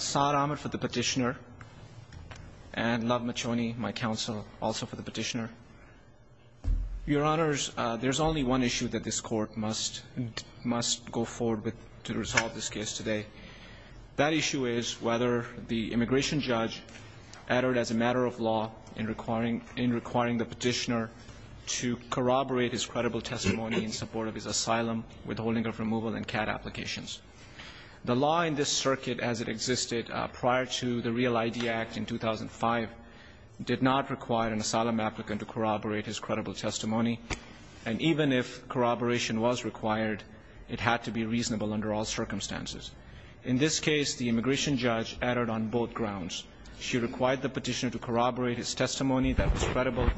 Saad Ahmed for the petitioner, and Love Machoni, my counsel, also for the petitioner. Your Honors, there's only one issue that this Court must go forward with to resolve this case today. That issue is whether the immigration judge uttered, as a matter of law, in requiring the petitioner to corroborate his credible testimony in support of his asylum, withholding of removal, and CAD applications. The law in this circuit, as it existed prior to the REAL-ID Act in 2005, did not require an asylum applicant to corroborate his credible testimony. And even if corroboration was required, it had to be reasonable under all circumstances. In this case, the immigration judge uttered on both grounds. She required the petitioner to corroborate his testimony that was credible,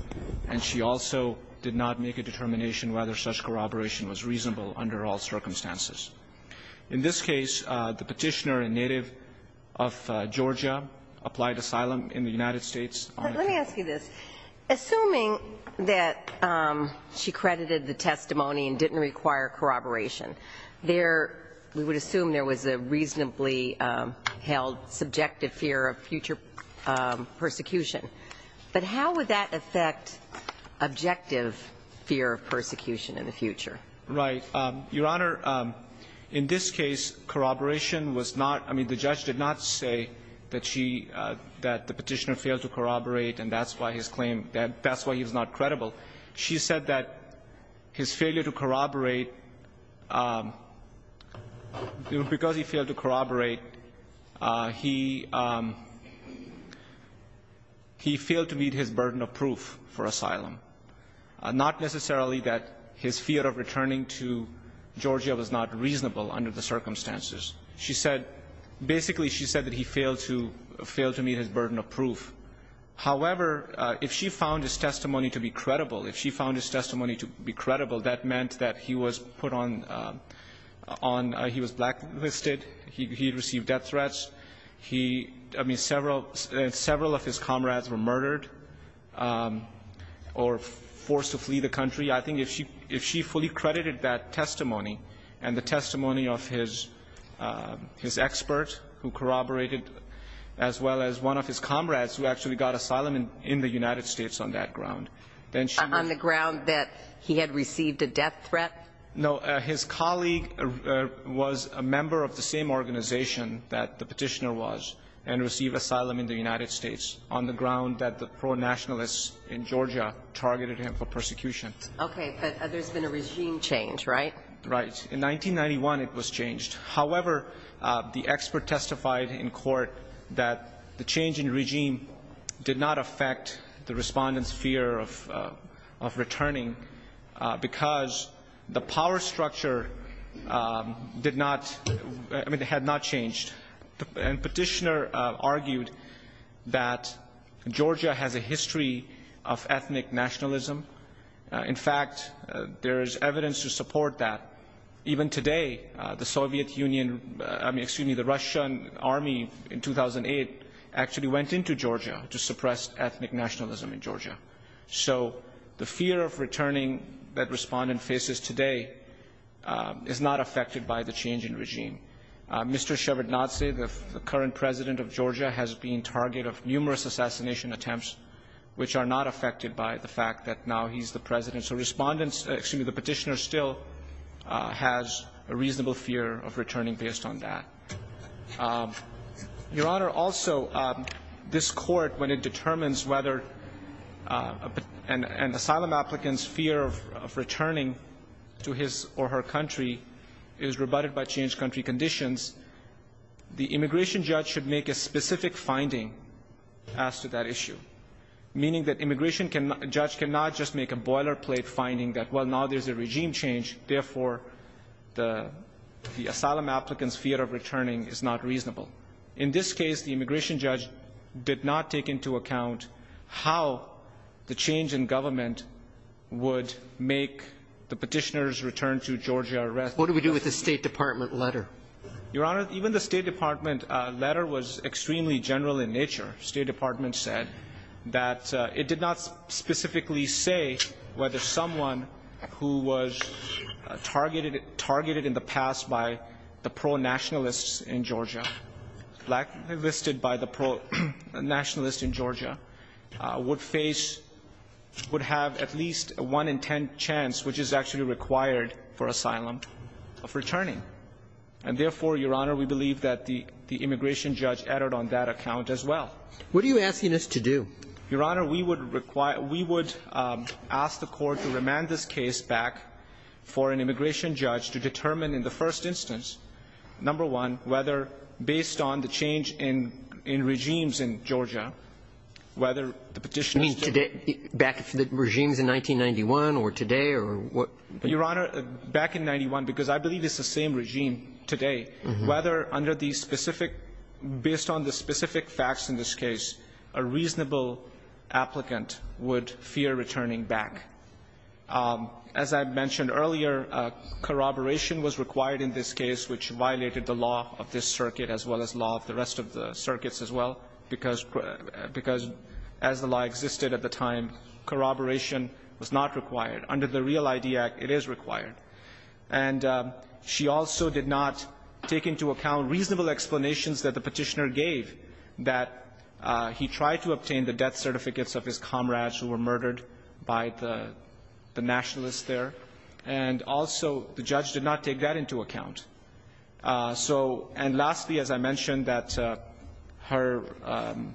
and she also did not make a determination whether such corroboration was reasonable under all circumstances. In this case, the petitioner, a native of Georgia, applied asylum in the United States. But let me ask you this. Assuming that she credited the testimony and didn't require corroboration, there we would assume there was a reasonably held subjective fear of future persecution. But how would that affect objective fear of persecution in the future? Right. Your Honor, in this case, corroboration was not – I mean, the judge did not say that she – that the petitioner failed to corroborate and that's why his claim – that's why he was not credible. She said that his failure to corroborate – because he failed to corroborate, he failed to meet his burden of proof for asylum. Not necessarily that his fear of returning to Georgia was not reasonable under the circumstances. She said – basically, she said that he failed to – failed to meet his burden of proof. However, if she found his testimony to be credible, if she found his testimony to be credible, that meant that he was put on – on – he was blacklisted, he received death threats, he – I mean, several – several of his comrades were murdered or forced to flee the country, I think if she – if she fully credited that testimony and the testimony of his – his expert who corroborated as well as one of his comrades who actually got asylum in the United States on that ground, then she would – On the ground that he had received a death threat? No. His colleague was a member of the same organization that the petitioner was and received asylum in the United States on the ground that the pro-nationalists in Georgia targeted him for persecution. Okay. But there's been a regime change, right? Right. In 1991, it was changed. However, the expert testified in court that the change in regime did not affect the respondents' fear of – of returning because the power structure did not – I mean, it had not changed. And petitioner argued that Georgia has a history of ethnic nationalism. In fact, there is evidence to support that. Even today, the Soviet Union – I mean, excuse me, the Russian Army in 2008 actually went into Georgia to suppress ethnic nationalism in Georgia. So the fear of returning that respondent faces today is not affected by the change in regime. Mr. Shevardnadze, the current president of Georgia, has been target of numerous assassination attempts which are not affected by the fact that now he's the president. So respondents – excuse me, the petitioner still has a reasonable fear of returning based on that. Your Honor, also, this court, when it determines whether an asylum applicant's fear of returning to his or her country is rebutted by changed country conditions, the immigration judge should make a specific finding as to that issue, meaning that immigration judge cannot just make a boilerplate finding that, well, now there's a regime change, therefore, the asylum applicant's fear of returning is not reasonable. In this case, the immigration judge did not take into account how the change in government would make the petitioner's return to Georgia a risk. What do we do with the State Department letter? Your Honor, even the State Department letter was extremely general in nature. State Department said that it did not specifically say whether someone who was targeted in the past by the pro-nationalists in Georgia, blacklisted by the pro-nationalists in Georgia, would face – would have at least a 1 in 10 chance, which is actually required for asylum, of returning. And therefore, Your Honor, we believe that the immigration judge erred on that account as well. What are you asking us to do? Your Honor, we would require – we would ask the Court to remand this case back for an immigration judge to determine in the first instance, number one, whether based on the change in regimes in Georgia, whether the petitioner's – You mean today – back in the regimes in 1991 or today or what – Your Honor, back in 91, because I believe it's the same regime today, whether under the specific – based on the specific facts in this case, a reasonable applicant would fear returning back. As I mentioned earlier, corroboration was required in this case, which violated the law of this circuit as well as the law of the rest of the circuits as well, because as the law existed at the time, corroboration was not required. Under the REAL ID Act, it is required. And she also did not take into account reasonable explanations that the petitioner gave that he tried to obtain the death certificates of his comrades who were murdered by the nationalists there. And also, the judge did not take that into account. So – and lastly, as I mentioned, that her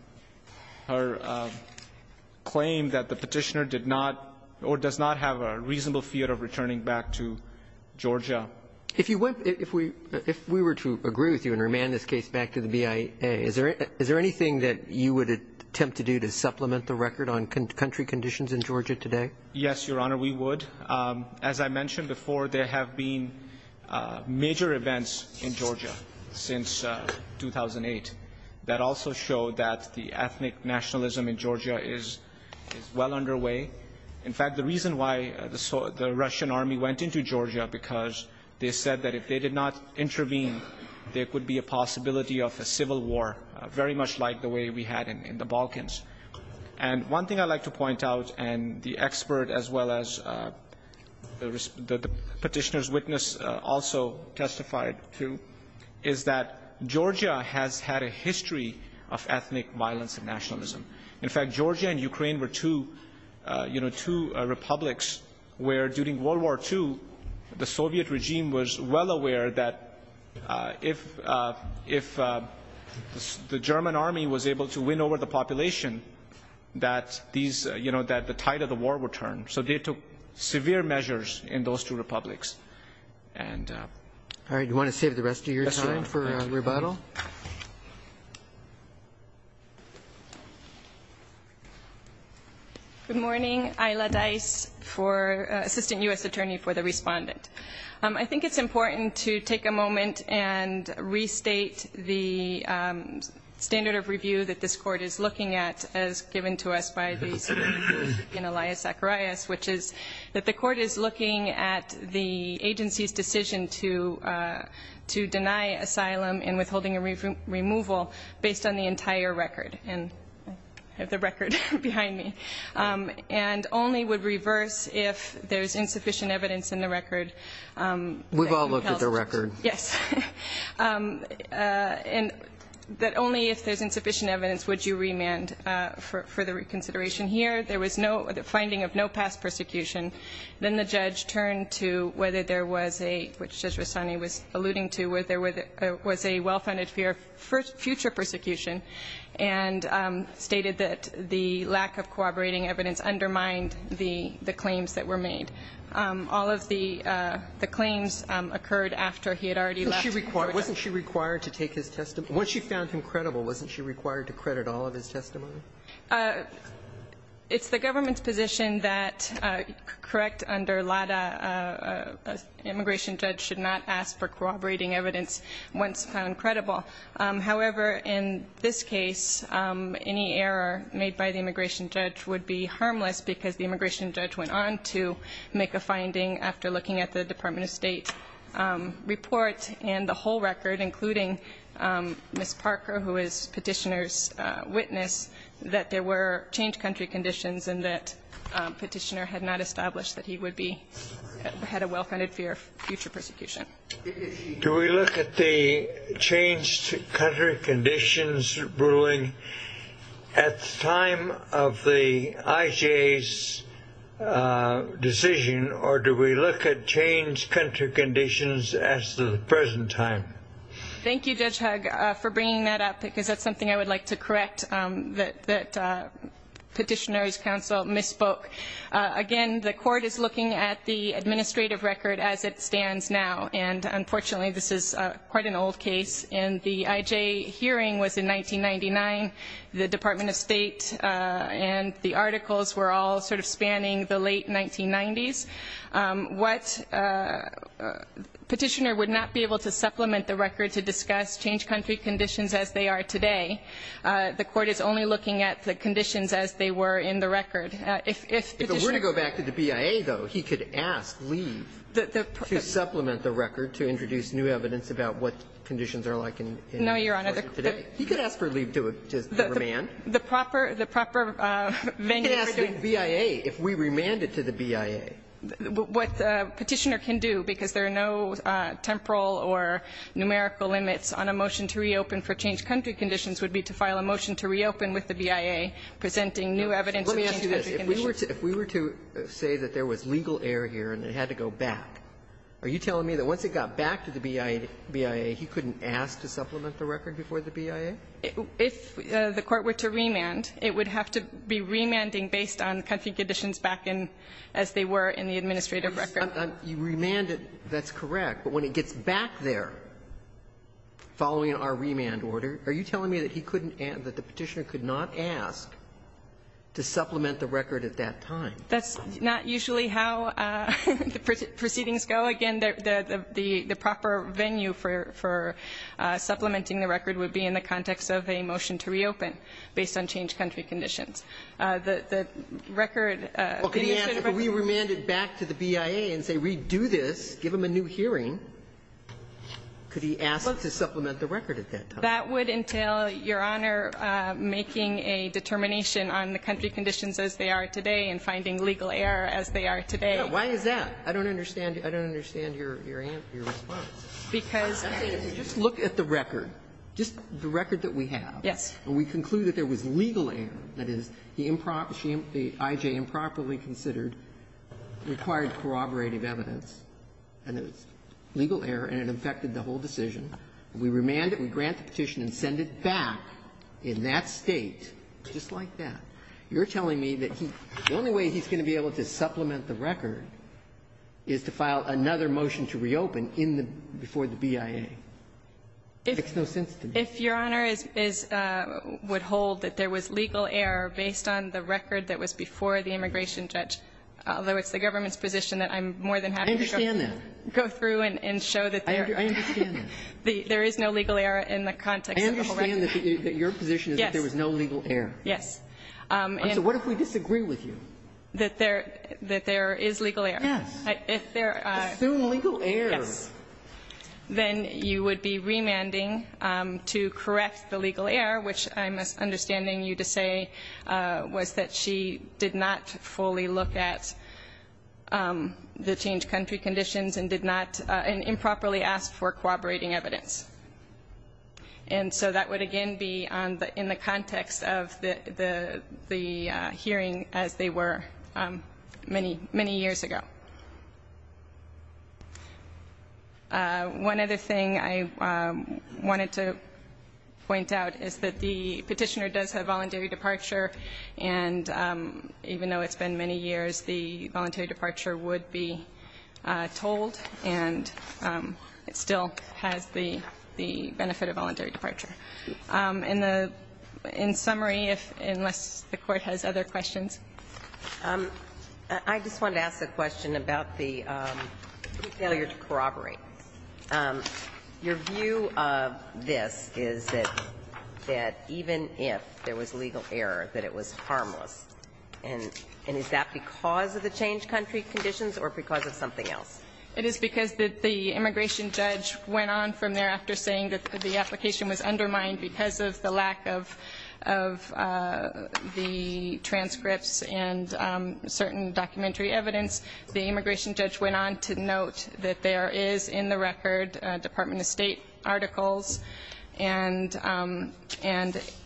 claim that the petitioner did not or does not have a reasonable fear of returning back to Georgia. If you went – if we were to agree with you and remand this case back to the BIA, is there anything that you would attempt to do to supplement the record on country conditions in Georgia today? Yes, Your Honor, we would. As I mentioned before, there have been major events in Georgia since 2008 that also show that the ethnic nationalism in Georgia is well underway. In fact, the reason why the Russian Army went into Georgia, because they said that if they did not intervene, there could be a possibility of a civil war, very much like the way we had in the Balkans. And one thing I'd like to point out, and the expert as well as the petitioner's witness also testified to, is that Georgia has had a history of ethnic violence and nationalism. In fact, Georgia and Ukraine were two republics where, during World War II, the Soviet regime was well aware that if the German Army was able to win over the population, that the tide of the war would turn. So they took severe measures in those two republics. All right. Do you want to save the rest of your time for rebuttal? Yes, Your Honor. Good morning. Ayla Dice, Assistant U.S. Attorney for the Respondent. I think it's important to take a moment and restate the standard of review that this Court is looking at, as given to us by the Supreme Court in Elias Zacharias, which is that the Court is looking at the agency's decision to deny asylum and withholding a removal based on the entire record. I have the record behind me. And only would reverse if there's insufficient evidence in the record. We've all looked at the record. Yes. And that only if there's insufficient evidence would you remand for the reconsideration. So are you saying that the judge in this case, in the hearing here there was no finding of no past persecution, and then the judge turned to whether there was a, which Judge Rossani was alluding to, whether there was a well-funded future persecution and stated that the lack of corroborating evidence undermined the claims that were made. All of the claims occurred after he had already left. Wasn't she required to take his testimony? Once she found him credible, wasn't she required to credit all of his testimony? It's the government's position that correct under LADA, an immigration judge should not ask for corroborating evidence once found credible. However, in this case, any error made by the immigration judge would be harmless because the immigration judge went on to make a finding after looking at the Department of State report and the whole record, including Ms. Parker, who is Petitioner's witness, that there were changed country conditions and that Petitioner had not established that he would be, had a well-funded future persecution. Do we look at the changed country conditions ruling at the time of the IJ's decision, or do we look at changed country conditions as of the present time? Thank you, Judge Hugg, for bringing that up, because that's something I would like to correct that Petitioner's counsel misspoke. Again, the court is looking at the administrative record as it stands now, and unfortunately this is quite an old case. And the IJ hearing was in 1999. The Department of State and the articles were all sort of spanning the late 1990s. What Petitioner would not be able to supplement the record to discuss changed country conditions as they are today. The court is only looking at the conditions as they were in the record. If Petitioner... If we're going to go back to the BIA, though, he could ask leave to supplement the record to introduce new evidence about what conditions are like in the court today. No, Your Honor. He could ask for leave to remand. The proper venue... He could ask the BIA if we remand it to the BIA. What Petitioner can do, because there are no temporal or numerical limits on a motion to reopen for changed country conditions, would be to file a motion to reopen with the BIA presenting new evidence of changed country conditions. Let me ask you this. If we were to say that there was legal error here and it had to go back, are you telling me that once it got back to the BIA, he couldn't ask to supplement the record before the BIA? If the court were to remand, it would have to be remanding based on country conditions back in as they were in the administrative record. You remanded. That's correct. But when it gets back there, following our remand order, are you telling me that he couldn't ask, that the Petitioner could not ask to supplement the record at that time? That's not usually how proceedings go. Again, the proper venue for supplementing the record would be in the context of a motion to reopen based on changed country conditions. The record... Well, could he ask, if we remand it back to the BIA and say, redo this, give him a new hearing, could he ask to supplement the record at that time? That would entail, Your Honor, making a determination on the country conditions as they are today and finding legal error as they are today. Why is that? I don't understand. I don't understand your response. Because... Just look at the record. Just the record that we have. Yes. And we conclude that there was legal error. That is, the I.J. improperly considered required corroborative evidence, and it was legal error, and it affected the whole decision. If we remand it, we grant the petition and send it back in that State, just like that, you're telling me that the only way he's going to be able to supplement the record is to file another motion to reopen in the --" before the BIA. It makes no sense to me. If Your Honor is --" would hold that there was legal error based on the record that was before the immigration judge, although it's the government's position that I'm more than happy to go through and show that there... I understand that. There is no legal error in the context of the whole record. I understand that your position is that there was no legal error. Yes. And so what if we disagree with you? That there is legal error. Yes. If there are... Assume legal error. Yes. Then you would be remanding to correct the legal error, which I'm understanding you to say was that she did not fully look at the change country conditions and did not improperly ask for corroborating evidence. And so that would again be in the context of the hearing as they were many years ago. One other thing I wanted to point out is that the petitioner does have voluntary departure, and even though it's been many years, the voluntary departure would be told, and it still has the benefit of voluntary departure. In summary, unless the Court has other questions. I just wanted to ask a question about the failure to corroborate. Your view of this is that even if there was legal error, that it was harmless. And is that because of the change country conditions or because of something else? It is because the immigration judge went on from there after saying that the application was undermined because of the lack of the transcripts and certain documentary evidence. The immigration judge went on to note that there is in the record Department of State articles and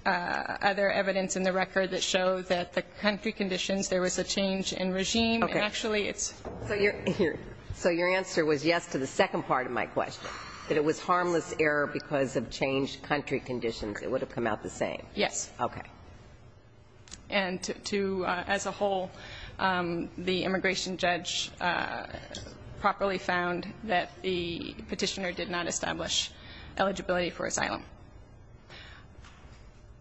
other evidence in the record that show that the country conditions, there was a change in regime, and actually it's. So your answer was yes to the second part of my question, that it was harmless error because of change country conditions. It would have come out the same. Yes. Okay. And as a whole, the immigration judge properly found that the petitioner did not establish eligibility for asylum.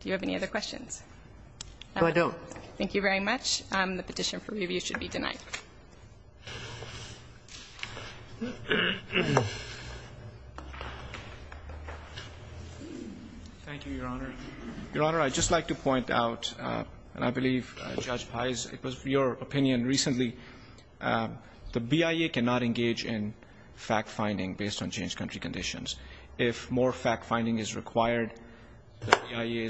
Do you have any other questions? No, I don't. Thank you very much. The petition for review should be denied. Thank you, Your Honor. Your Honor, I'd just like to point out, and I believe Judge Pais, it was your opinion recently, the BIA cannot engage in fact-finding based on change country conditions. If more fact-finding is required, the BIA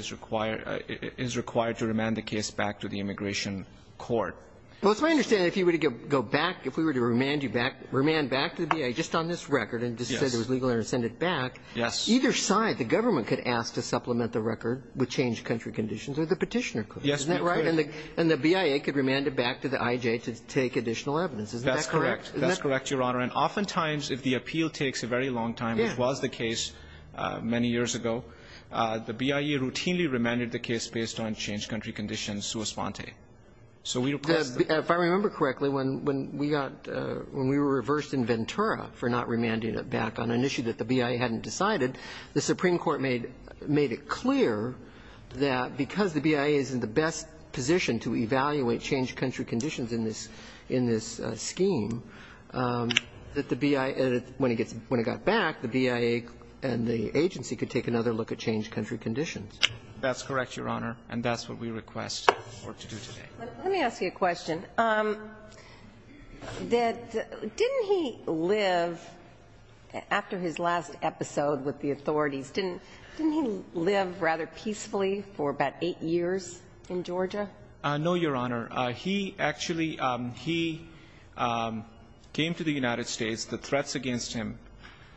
is required to remand the case back to the immigration court. Well, it's my understanding if you were to go back, if we were to remand you back, remand back to the BIA just on this record and just say there was legal interest in it back, either side, the government could ask to supplement the record with change country conditions or the petitioner could. Yes, we could. Isn't that right? And the BIA could remand it back to the IJ to take additional evidence. Isn't that correct? That's correct. Isn't that correct, Your Honor? And oftentimes, if the appeal takes a very long time, which was the case many years ago, the BIA routinely remanded the case based on change country conditions sua sponte. If I remember correctly, when we were reversed in Ventura for not remanding it back on an issue that the BIA hadn't decided, the Supreme Court made it clear that because the BIA is in the best position to evaluate change country conditions in this scheme, that the BIA, when it got back, the BIA and the agency could take another look at change country conditions. That's correct, Your Honor. And that's what we request for it to do today. Let me ask you a question. Didn't he live, after his last episode with the authorities, didn't he live rather peacefully for about eight years in Georgia? No, Your Honor. He actually, he came to the United States. The threats against him,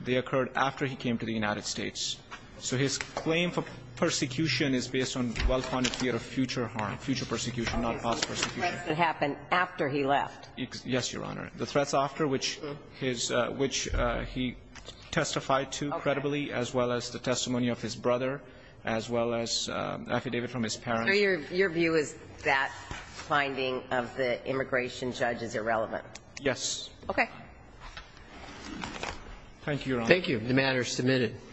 they occurred after he came to the United States. So his claim for persecution is based on well-founded fear of future harm, future persecution, not false persecution. The threats that happened after he left. Yes, Your Honor. The threats after, which his, which he testified to credibly, as well as the testimony of his brother, as well as affidavit from his parents. So your view is that finding of the immigration judge is irrelevant? Yes. Okay. Thank you, Your Honor. Thank you. The matter is submitted.